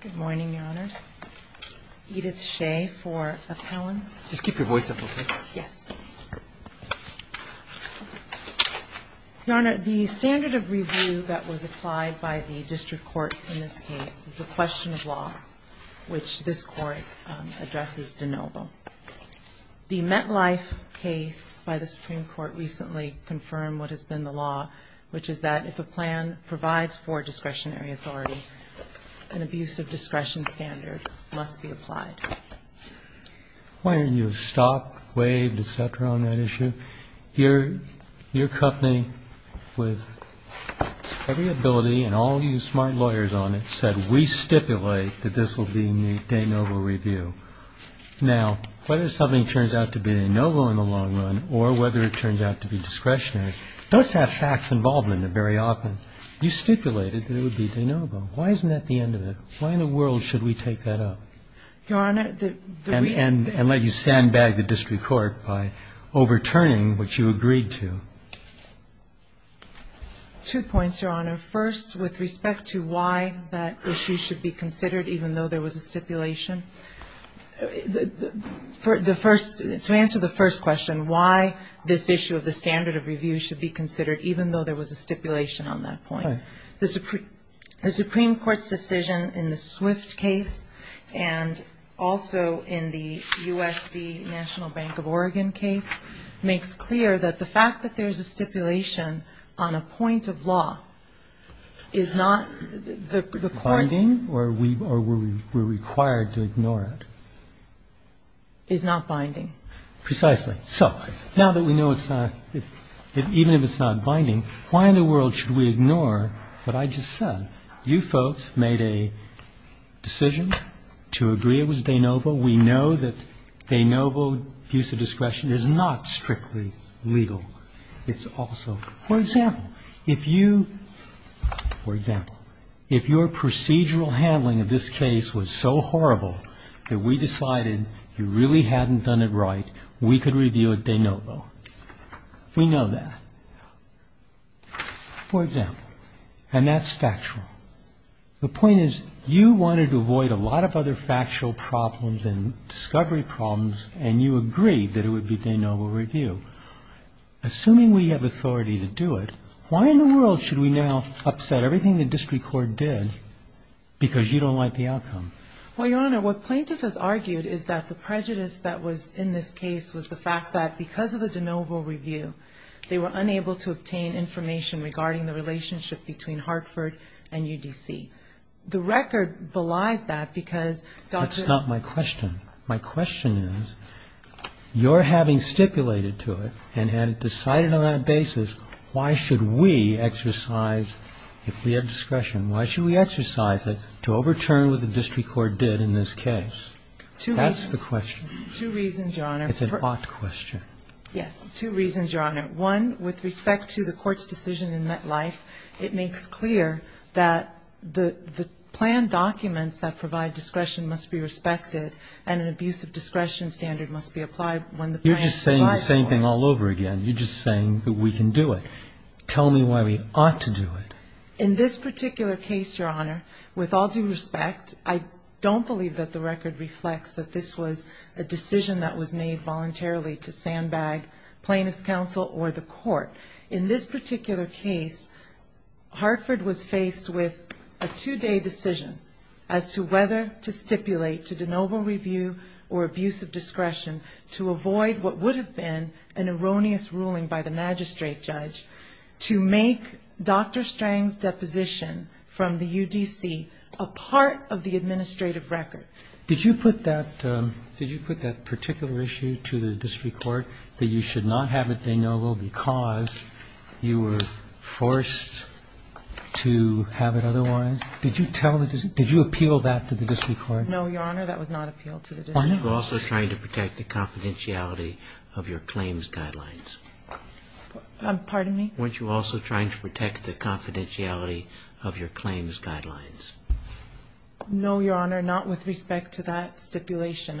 Good morning, Your Honor. Edith Shea for appellants. Just keep your voice up, okay? Yes. Your Honor, the standard of review that was applied by the district court in this case is a question of law, which this court addresses de novo. The MetLife case by the Supreme Court recently confirmed what has been the law, which is that if a plan provides for discretionary authority, an abuse of discretion standard must be applied. Why didn't you stop, waive, et cetera, on that issue? Your company, with every ability and all you smart lawyers on it, said we stipulate that this will be a de novo review. Now, whether something turns out to be de novo in the long run or whether it turns out to be discretionary, don't have facts involved in it very often. You stipulated that it would be de novo. Why isn't that the end of it? Why in the world should we take that up? Your Honor, the reason we don't do that is because we don't have the facts. And let you sandbag the district court by overturning what you agreed to. Two points, Your Honor. First, with respect to why that issue should be considered, even though there was a stipulation. The first, to answer the first question, why this issue of the standard of review should be considered, even though there was a stipulation on that point. The Supreme Court's decision in the Swift case and also in the U.S.B. National Bank of Oregon case makes clear that the fact that there is a stipulation on a point of law is not the court. Is that binding or we're required to ignore it? It's not binding. Precisely. So now that we know it's not, even if it's not binding, why in the world should we ignore what I just said? You folks made a decision to agree it was de novo. We know that de novo use of discretion is not strictly legal. It's also, for example, if you, for example, if your procedural handling of this case was so horrible that we decided you really hadn't done it right, we could review it de novo. We know that. For example, and that's factual. The point is you wanted to avoid a lot of other factual problems and discovery problems and you agreed that it would be de novo review. Assuming we have authority to do it, why in the world should we now upset everything the district court did because you don't like the outcome? Well, Your Honor, what plaintiff has argued is that the prejudice that was in this case was the fact that because of a de novo review, they were unable to obtain information regarding the relationship between Hartford and UDC. The record belies that because Dr. That's not my question. My question is, your having stipulated to it and had decided on that basis why should we exercise, if we have discretion, why should we exercise it to overturn what the district court did in this case? That's the question. Two reasons, Your Honor. It's an ought question. Yes. Two reasons, Your Honor. One, with respect to the court's decision in MetLife, it makes clear that the planned documents that provide discretion must be respected and an abuse of discretion standard must be applied when the plan is applied. You're just saying the same thing all over again. You're just saying that we can do it. Tell me why we ought to do it. In this particular case, Your Honor, with all due respect, I don't believe that the record reflects that this was a decision that was made voluntarily to sandbag plaintiff's counsel or the court. In this particular case, Hartford was faced with a two-day decision as to whether to stipulate to de novo review or abuse of discretion to avoid what would have been an erroneous ruling by the magistrate judge to make Dr. Strang's deposition from the UDC a part of the administrative record. Did you put that particular issue to the district court, that you should not have it de novo because you were forced to have it otherwise? Did you tell the district – did you appeal that to the district court? No, Your Honor, that was not appealed to the district court. Weren't you also trying to protect the confidentiality of your claims guidelines? Pardon me? Weren't you also trying to protect the confidentiality of your claims guidelines? No, Your Honor, not with respect to that stipulation.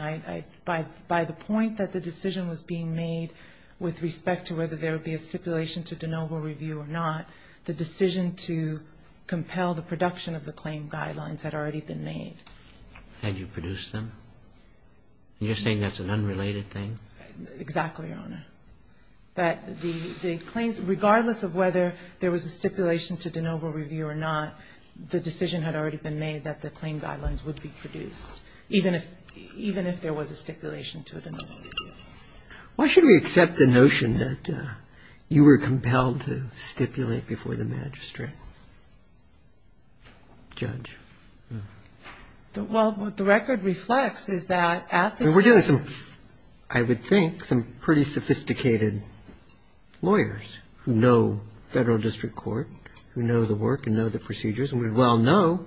By the point that the decision was being made with respect to whether there would be a stipulation to de novo review or not, the decision to compel the production of the claim guidelines had already been made. Had you produced them? You're saying that's an unrelated thing? Exactly, Your Honor. That the claims, regardless of whether there was a stipulation to de novo review or not, the decision had already been made that the claim guidelines would be produced, even if there was a stipulation to de novo review. Why should we accept the notion that you were compelled to stipulate before the magistrate, judge? Well, what the record reflects is that at the time – I mean, we're dealing with some, I would think, some pretty sophisticated lawyers who know federal district court, who know the work and know the procedures, and we well know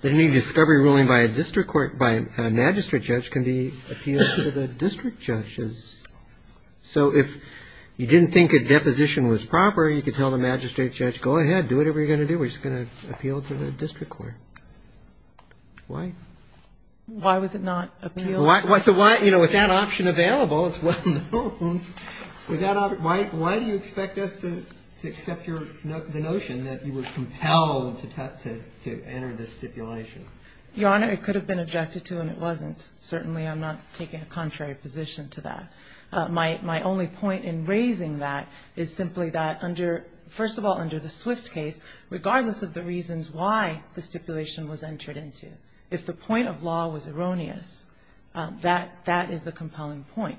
that any discovery ruling by a district court, by a magistrate judge can be appealed to the district judges. So if you didn't think a deposition was proper, you could tell the magistrate judge, go ahead, do whatever you're going to do. We're just going to appeal to the district court. Why? Why was it not appealed? So why, you know, with that option available, it's well known. Why do you expect us to accept the notion that you were compelled to enter this stipulation? Your Honor, it could have been objected to, and it wasn't. Certainly, I'm not taking a contrary position to that. My only point in raising that is simply that under – first of all, under the Swift case, regardless of the reasons why the stipulation was entered into, if the point of law was erroneous, that is the compelling point.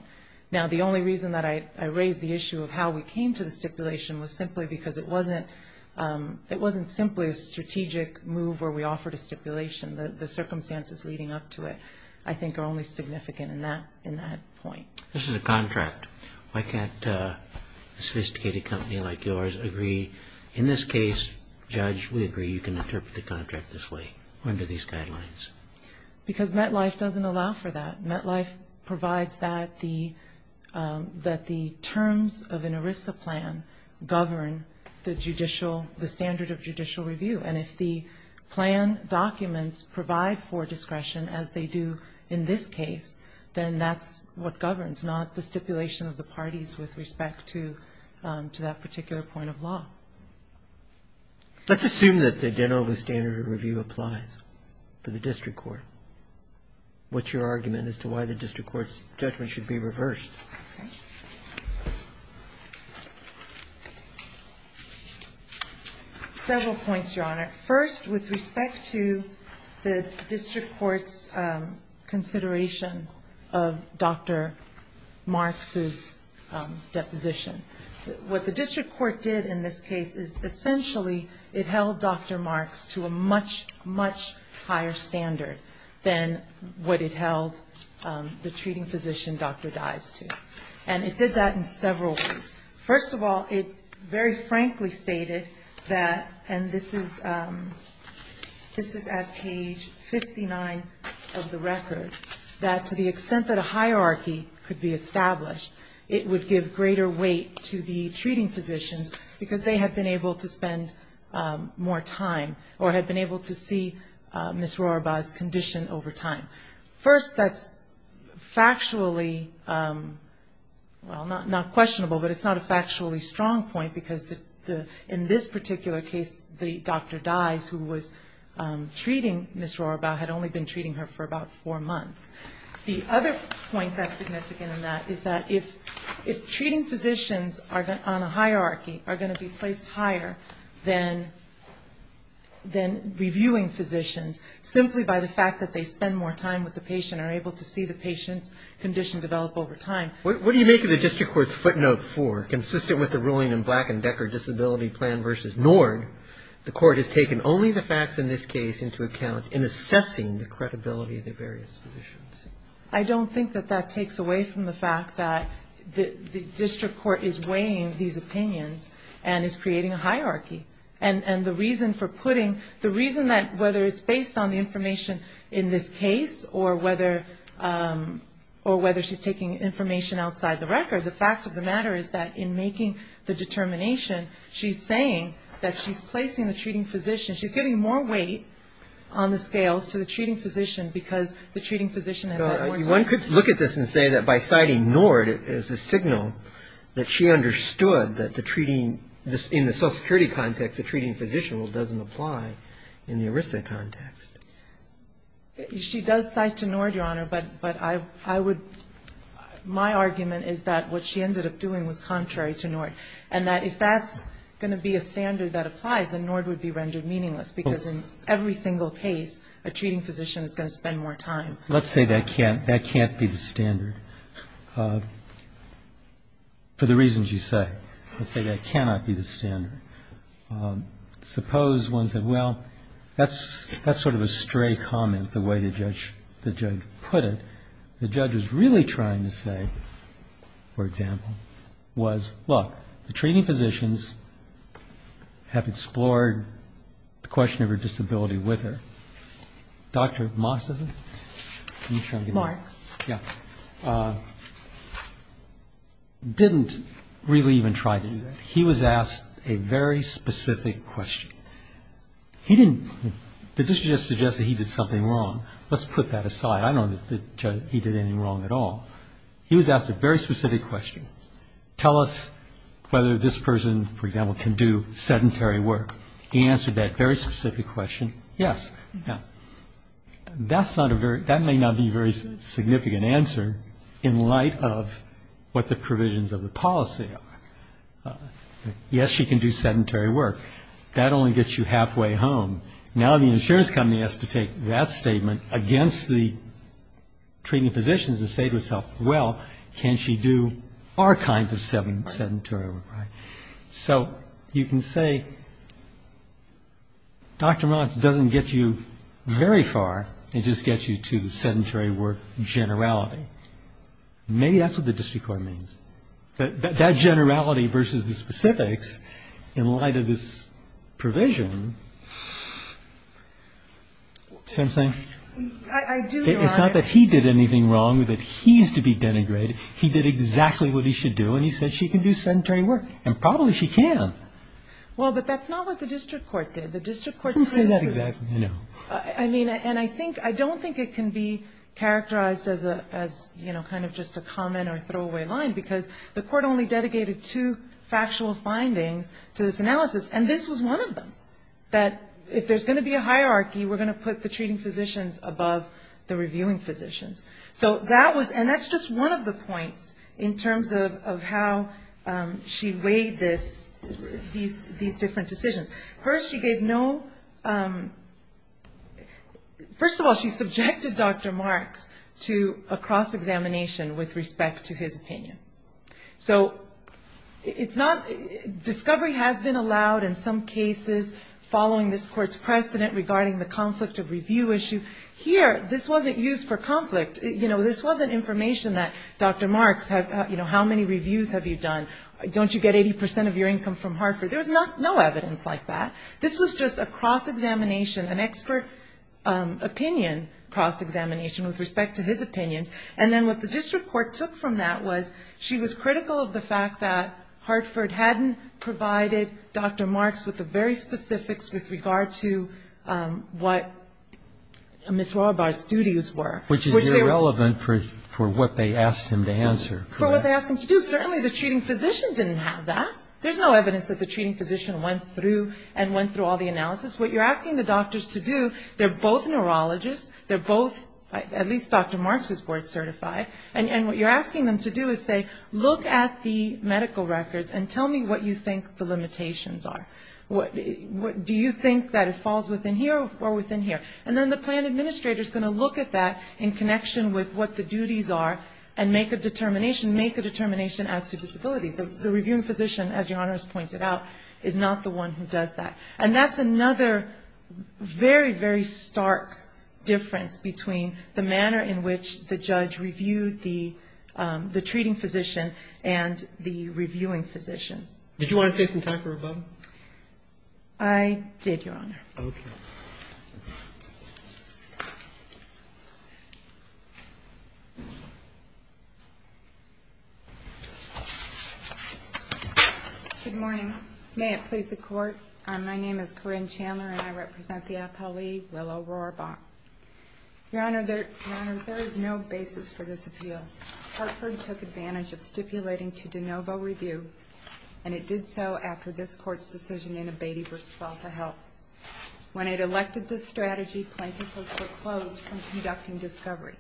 Now, the only reason that I raise the issue of how we came to the stipulation was simply because it wasn't simply a strategic move where we offered a stipulation. The circumstances leading up to it, I think, are only significant in that point. This is a contract. Why can't a sophisticated company like yours agree, in this case, Judge, we agree, you can interpret the contract this way. When do these guidelines? Because MetLife doesn't allow for that. MetLife provides that the – that the terms of an ERISA plan govern the judicial – the standard of judicial review. And if the plan documents provide for discretion, as they do in this case, then that's what governs, not the stipulation of the parties with respect to that particular point of law. Let's assume that the Denova standard of review applies to the district court. What's your argument as to why the district court's judgment should be reversed? Several points, Your Honor. First, with respect to the district court's consideration of Dr. Marks's deposition. What the district court did in this case is essentially it held Dr. Marks to a much, much higher standard than what it held the treating physician, Dr. Dyes, to. And it did that in several ways. First of all, it very frankly stated that, and this is at page 59 of the record, that to the extent that a hierarchy could be established, it would give greater weight to the treating physicians because they had been able to see Ms. Rorabaugh's condition over time. First, that's factually, well, not questionable, but it's not a factually strong point because in this particular case, the Dr. Dyes, who was treating Ms. Rorabaugh, had only been treating her for about four months. The other point that's significant in that is that if treating physicians on a hierarchy are going to be placed higher than reviewing physicians simply by the fact that they spend more time with the patient, are able to see the patient's condition develop over time. What do you make of the district court's footnote four, consistent with the ruling in Black and Decker Disability Plan v. Nord, the court has taken only the facts in this case into account in assessing the credibility of the various physicians? I don't think that that takes away from the fact that the district court is weighing these opinions and is creating a hierarchy. And the reason for putting, the reason that whether it's based on the information in this case or whether she's taking information outside the record, the fact of the matter is that in making the determination, she's saying that she's placing the treating physician, she's giving more weight on the scales to the treating physician because the treating physician has that more time. One could look at this and say that by citing Nord, it's a signal that she understood that the treating, in the social security context the treating physician doesn't apply in the ERISA context. She does cite to Nord, Your Honor, but I would, my argument is that what she ended up doing was contrary to Nord, and that if that's going to be a standard that applies, then Nord would be rendered meaningless because in every single case a treating physician is going to spend more time. Let's say that can't be the standard for the reasons you say. Let's say that cannot be the standard. Suppose one said, well, that's sort of a stray comment, the way the judge put it. The judge is really trying to say, for example, was, look, the treating physicians have explored the question of her disability with her. Dr. Marx didn't really even try to do that. He was asked a very specific question. He didn't, the judge just suggested he did something wrong. Let's put that aside. I don't know that he did anything wrong at all. He was asked a very specific question. Tell us whether this person, for example, can do sedentary work. He answered that very specific question, yes. Now, that's not a very, that may not be a very significant answer in light of what the provisions of the policy are. Yes, she can do sedentary work. That only gets you halfway home. Now the insurance company has to take that statement against the treating physicians to say to itself, well, can she do our kind of sedentary work? So you can say Dr. Marx doesn't get you very far. It just gets you to the sedentary work generality. Maybe that's what the district court means. That generality versus the specifics in light of this provision, see what I'm saying? It's not that he did anything wrong, that he's to be denigrated. He did exactly what he should do, and he said she can do sedentary work. And probably she can. Well, but that's not what the district court did. Who said that exactly? I mean, and I think, I don't think it can be characterized as, you know, kind of just a comment or throwaway line, because the court only dedicated two factual findings to this analysis, and this was one of them, that if there's going to be a hierarchy, we're going to put the treating physicians above the reviewing physicians. So that was, and that's just one of the points in terms of how she weighed this, these different decisions. First, she gave no, first of all, she subjected Dr. Marx to a cross-examination with respect to his opinion. So it's not, discovery has been allowed in some cases following this court's precedent regarding the conflict of review issue. Here, this wasn't used for conflict. You know, this wasn't information that Dr. Marx had, you know, how many reviews have you done? Don't you get 80% of your income from Hartford? There was no evidence like that. This was just a cross-examination, an expert opinion cross-examination with respect to his opinions. And then what the district court took from that was she was critical of the fact that Hartford hadn't provided Dr. Marx with the very specifics with regard to what Ms. Rohrabach's duties were. Which is irrelevant for what they asked him to answer. For what they asked him to do. Certainly the treating physician didn't have that. There's no evidence that the treating physician went through and went through all the analysis. What you're asking the doctors to do, they're both neurologists, they're both, at least Dr. Marx is board certified, and what you're asking them to do is say, look at the medical records and tell me what you think the limitations are. Do you think that it falls within here or within here? And then the plan administrator is going to look at that in connection with what the duties are and make a determination, make a determination as to disability. The reviewing physician, as Your Honor has pointed out, is not the one who does that. And that's another very, very stark difference between the manner in which the judge reviewed the treating physician and the reviewing physician. Did you want to say something, Dr. Rohrabach? I did, Your Honor. Okay. Good morning. May it please the Court. My name is Corinne Chandler, and I represent the appellee, Willow Rohrabach. Your Honor, there is no basis for this appeal. Hartford took advantage of stipulating to de novo review, and it did so after this Court's decision in Abatey v. Salta helped. When it elected this strategy, plaintiffs were foreclosed from conducting discovery.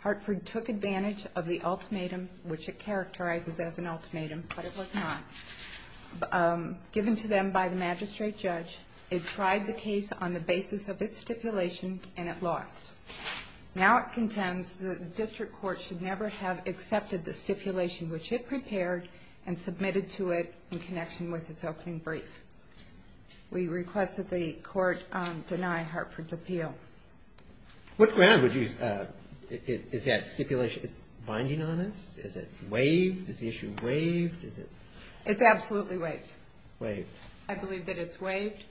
Hartford took advantage of the ultimatum, which it characterizes as an ultimatum, but it was not. Given to them by the magistrate judge, it tried the case on the basis of its stipulation, and it lost. Now it contends that the district court should never have accepted the stipulation which it prepared and submitted to it in connection with its opening brief. We request that the Court deny Hartford's appeal. What ground would you ‑‑ is that stipulation binding on us? Is it waived? Is the issue waived? It's absolutely waived. Waived. I believe that it's waived.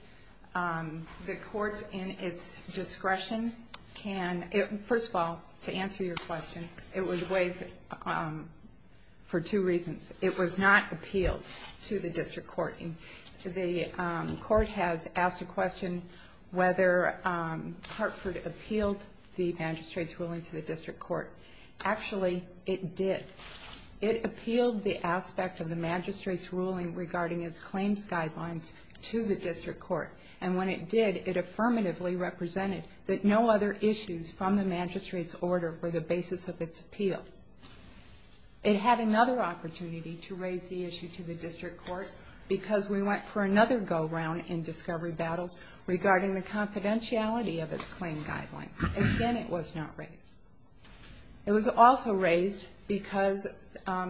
The Court, in its discretion, can ‑‑ first of all, to answer your question, it was waived for two reasons. It was not appealed to the district court. The court has asked a question whether Hartford appealed the magistrate's ruling to the district court. Actually, it did. It appealed the aspect of the magistrate's ruling regarding its claims guidelines to the district court, and when it did, it affirmatively represented that no other issues from the magistrate's order were the basis of its appeal. It had another opportunity to raise the issue to the district court because we went for another go‑round in discovery battles regarding the confidentiality of its claim guidelines. Again, it was not raised. It was also raised because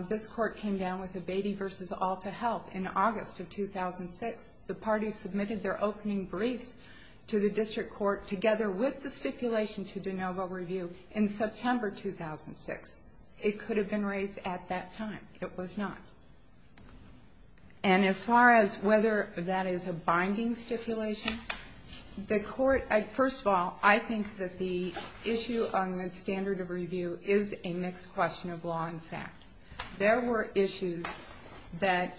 this court came down with a Beatty v. Alta help in August of 2006. The parties submitted their opening briefs to the district court together with the stipulation to de novo review in September 2006. It could have been raised at that time. It was not. And as far as whether that is a binding stipulation, the court ‑‑ is a mixed question of law and fact. There were issues that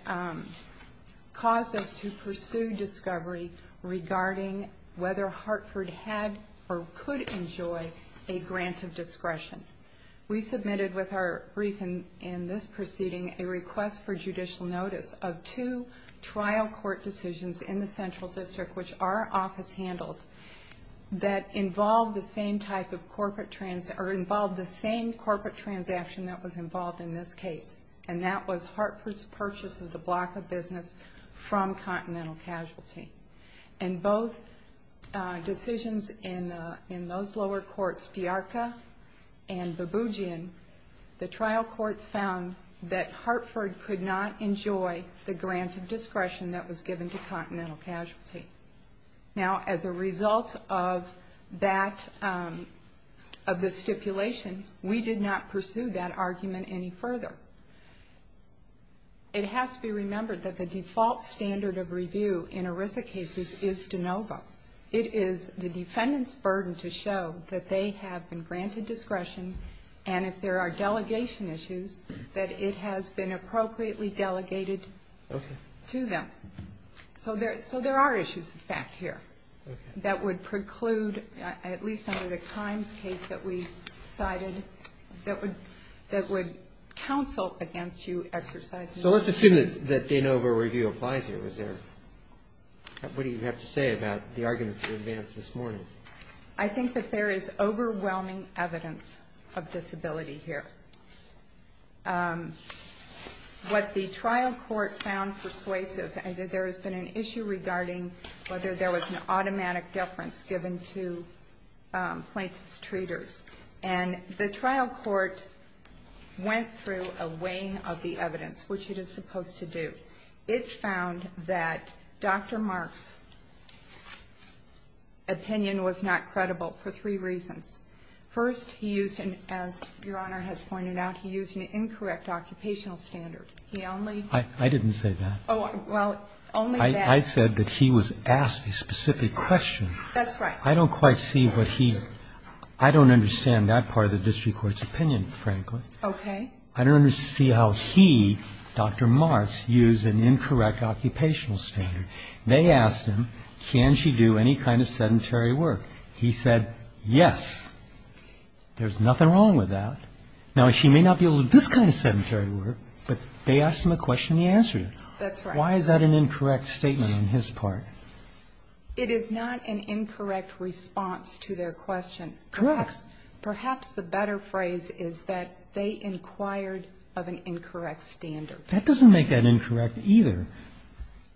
caused us to pursue discovery regarding whether Hartford had or could enjoy a grant of discretion. We submitted with our brief in this proceeding a request for judicial notice of two trial court decisions in the central district, which our office handled, that involved the same type of corporate ‑‑ or involved the same corporate transaction that was involved in this case. And that was Hartford's purchase of the block of business from Continental Casualty. And both decisions in those lower courts, DeArca and Babugian, the trial courts found that Hartford could not enjoy the grant of discretion that was given to Continental Casualty. Now, as a result of that ‑‑ of the stipulation, we did not pursue that argument any further. It has to be remembered that the default standard of review in ERISA cases is de novo. It is the defendant's burden to show that they have been granted discretion and if there are delegation issues, that it has been appropriately delegated to them. So there are issues, in fact, here that would preclude, at least under the crimes case that we cited, that would counsel against you exercising discretion. So let's assume that de novo review applies here. Is there ‑‑ what do you have to say about the arguments that advanced this morning? I think that there is overwhelming evidence of disability here. What the trial court found persuasive, there has been an issue regarding whether there was an automatic deference given to plaintiff's treaters. And the trial court went through a weighing of the evidence, which it is supposed to do. It found that Dr. Mark's opinion was not credible for three reasons. First, he used an ‑‑ as Your Honor has pointed out, he used an incorrect occupational standard. He only ‑‑ I didn't say that. Well, only that. I said that he was asked a specific question. That's right. I don't quite see what he ‑‑ I don't understand that part of the district court's opinion, frankly. Okay. I don't see how he, Dr. Mark's, used an incorrect occupational standard. They asked him, can she do any kind of sedentary work? He said, yes. There's nothing wrong with that. Now, she may not be able to do this kind of sedentary work, but they asked him a question and he answered it. That's right. Why is that an incorrect statement on his part? It is not an incorrect response to their question. Correct. Perhaps the better phrase is that they inquired of an incorrect standard. That doesn't make that incorrect either.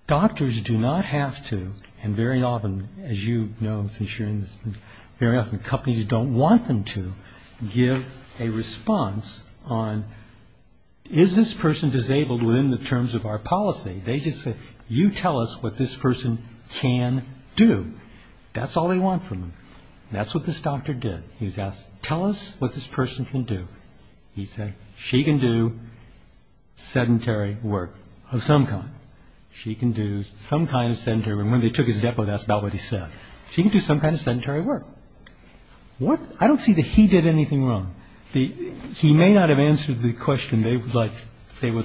Doctors do not have to, and very often, as you know since you're in this, very often companies don't want them to give a response on, is this person disabled within the terms of our policy? They just say, you tell us what this person can do. That's all they want from them. That's what this doctor did. He was asked, tell us what this person can do. He said, she can do sedentary work of some kind. She can do some kind of sedentary work. And when they took his depo, that's about what he said. She can do some kind of sedentary work. I don't see that he did anything wrong. He may not have answered the question they would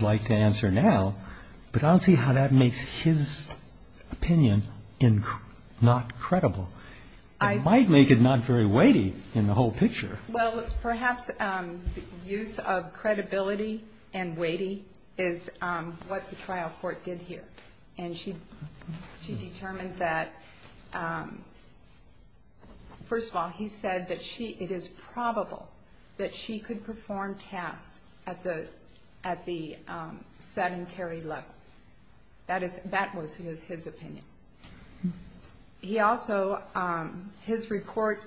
like to answer now, but I don't see how that makes his opinion not credible. It might make it not very weighty in the whole picture. Well, perhaps use of credibility and weighty is what the trial court did here. And she determined that, first of all, he said that it is probable that she could perform tasks at the sedentary level. That was his opinion. He also, his report,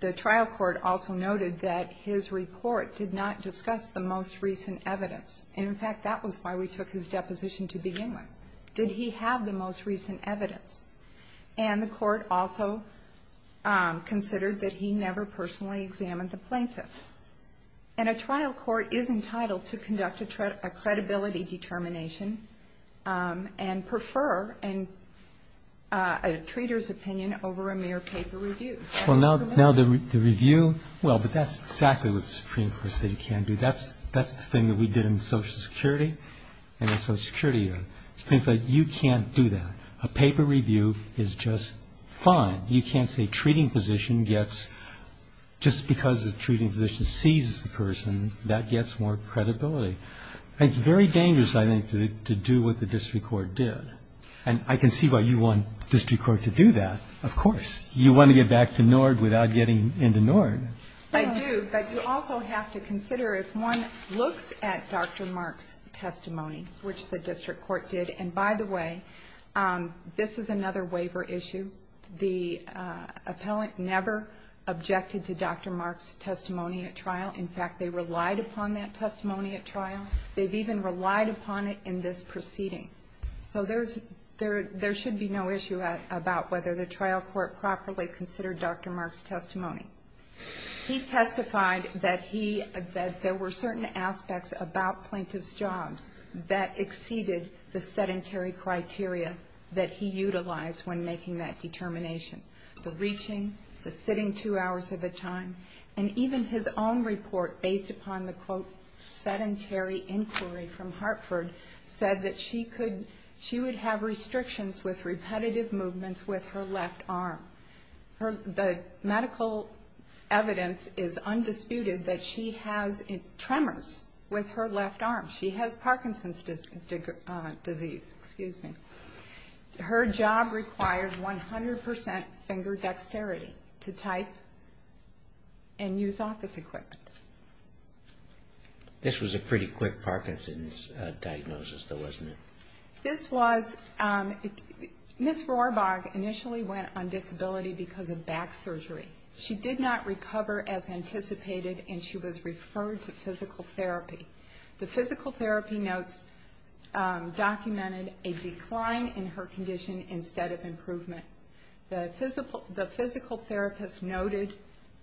the trial court also noted that his report did not discuss the most recent evidence. And, in fact, that was why we took his deposition to begin with. Did he have the most recent evidence? And the court also considered that he never personally examined the plaintiff. And a trial court is entitled to conduct a credibility determination and prefer a treater's opinion over a mere paper review. Well, now the review, well, but that's exactly what the Supreme Court of the State can do. That's the thing that we did in Social Security and the Social Security. The Supreme Court of the State, you can't do that. A paper review is just fine. You can't say treating position gets, just because the treating position seizes the person, that gets more credibility. And it's very dangerous, I think, to do what the district court did. And I can see why you want the district court to do that, of course. You want to get back to NORD without getting into NORD. I do, but you also have to consider if one looks at Dr. Mark's testimony, which the district court did. And, by the way, this is another waiver issue. The appellant never objected to Dr. Mark's testimony at trial. In fact, they relied upon that testimony at trial. They've even relied upon it in this proceeding. So there should be no issue about whether the trial court properly considered Dr. Mark's testimony. He testified that there were certain aspects about plaintiff's jobs that exceeded the sedentary criteria that he utilized when making that determination. The reaching, the sitting two hours at a time, and even his own report, based upon the, quote, sedentary inquiry from Hartford, said that she would have restrictions with repetitive movements with her left arm. The medical evidence is undisputed that she has tremors with her left arm. She has Parkinson's disease. Her job required 100% finger dexterity to type and use office equipment. This was a pretty quick Parkinson's diagnosis, though, wasn't it? This was. Ms. Rohrbach initially went on disability because of back surgery. She did not recover as anticipated, and she was referred to physical therapy. The physical therapy notes documented a decline in her condition instead of improvement. The physical therapist noted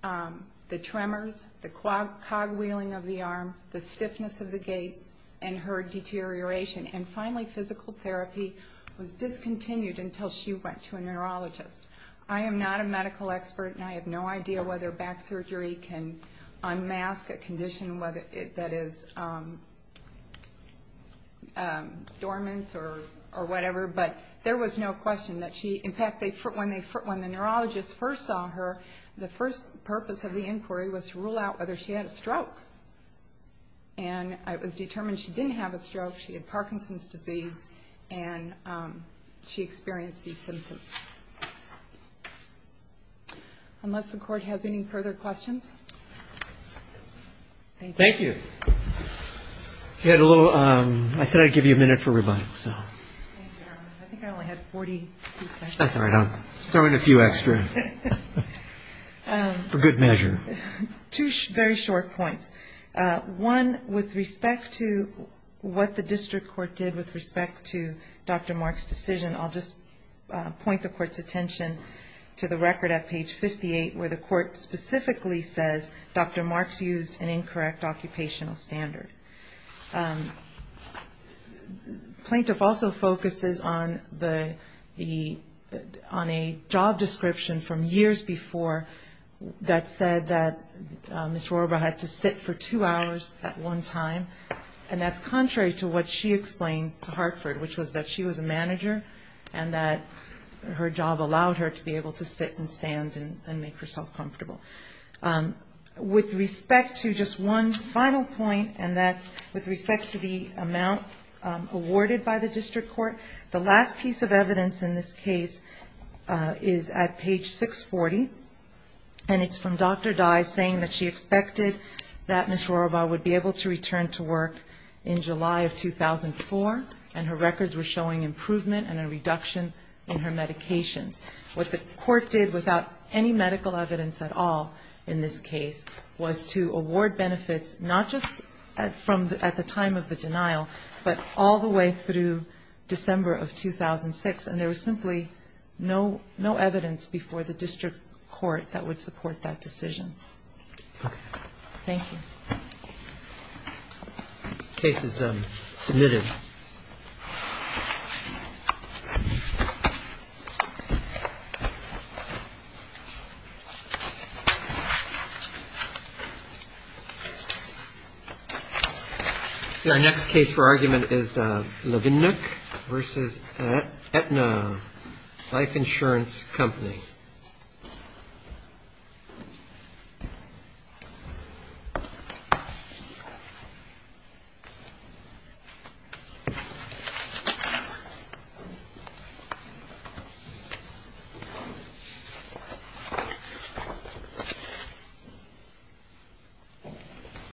the tremors, the cogwheeling of the arm, the stiffness of the gait, and her deterioration. And finally, physical therapy was discontinued until she went to a neurologist. I am not a medical expert, and I have no idea whether back surgery can unmask a condition that is dormant or whatever, but there was no question that she, in fact, when the neurologist first saw her, the first purpose of the inquiry was to rule out whether she had a stroke. And it was determined she didn't have a stroke. She had Parkinson's disease, and she experienced these symptoms. Unless the Court has any further questions? Thank you. I said I'd give you a minute for rebuttal. I think I only had 42 seconds. That's all right. I'll throw in a few extra for good measure. Two very short points. One, with respect to what the district court did with respect to Dr. Marks' decision, I'll just point the Court's attention to the record at page 58, where the Court specifically says Dr. Marks used an incorrect occupational standard. Plaintiff also focuses on a job description from years before that said that Ms. Rorba had to sit for two hours at one time, and that's contrary to what she explained to Hartford, which was that she was a manager and that her job allowed her to be able to sit and stand and make herself comfortable. With respect to just one final point, and that's with respect to the amount awarded by the district court, the last piece of evidence in this case is at page 640, and it's from Dr. Dye saying that she expected that Ms. Rorba would be able to return to work in July of 2004, and her records were showing improvement and a reduction in her medications. What the Court did without any medical evidence at all in this case was to award benefits not just at the time of the denial, but all the way through December of 2006, and there was simply no evidence before the district court that would support that decision. Thank you. The case is submitted. Our next case for argument is Levennuk v. Aetna Life Insurance Company. Thank you.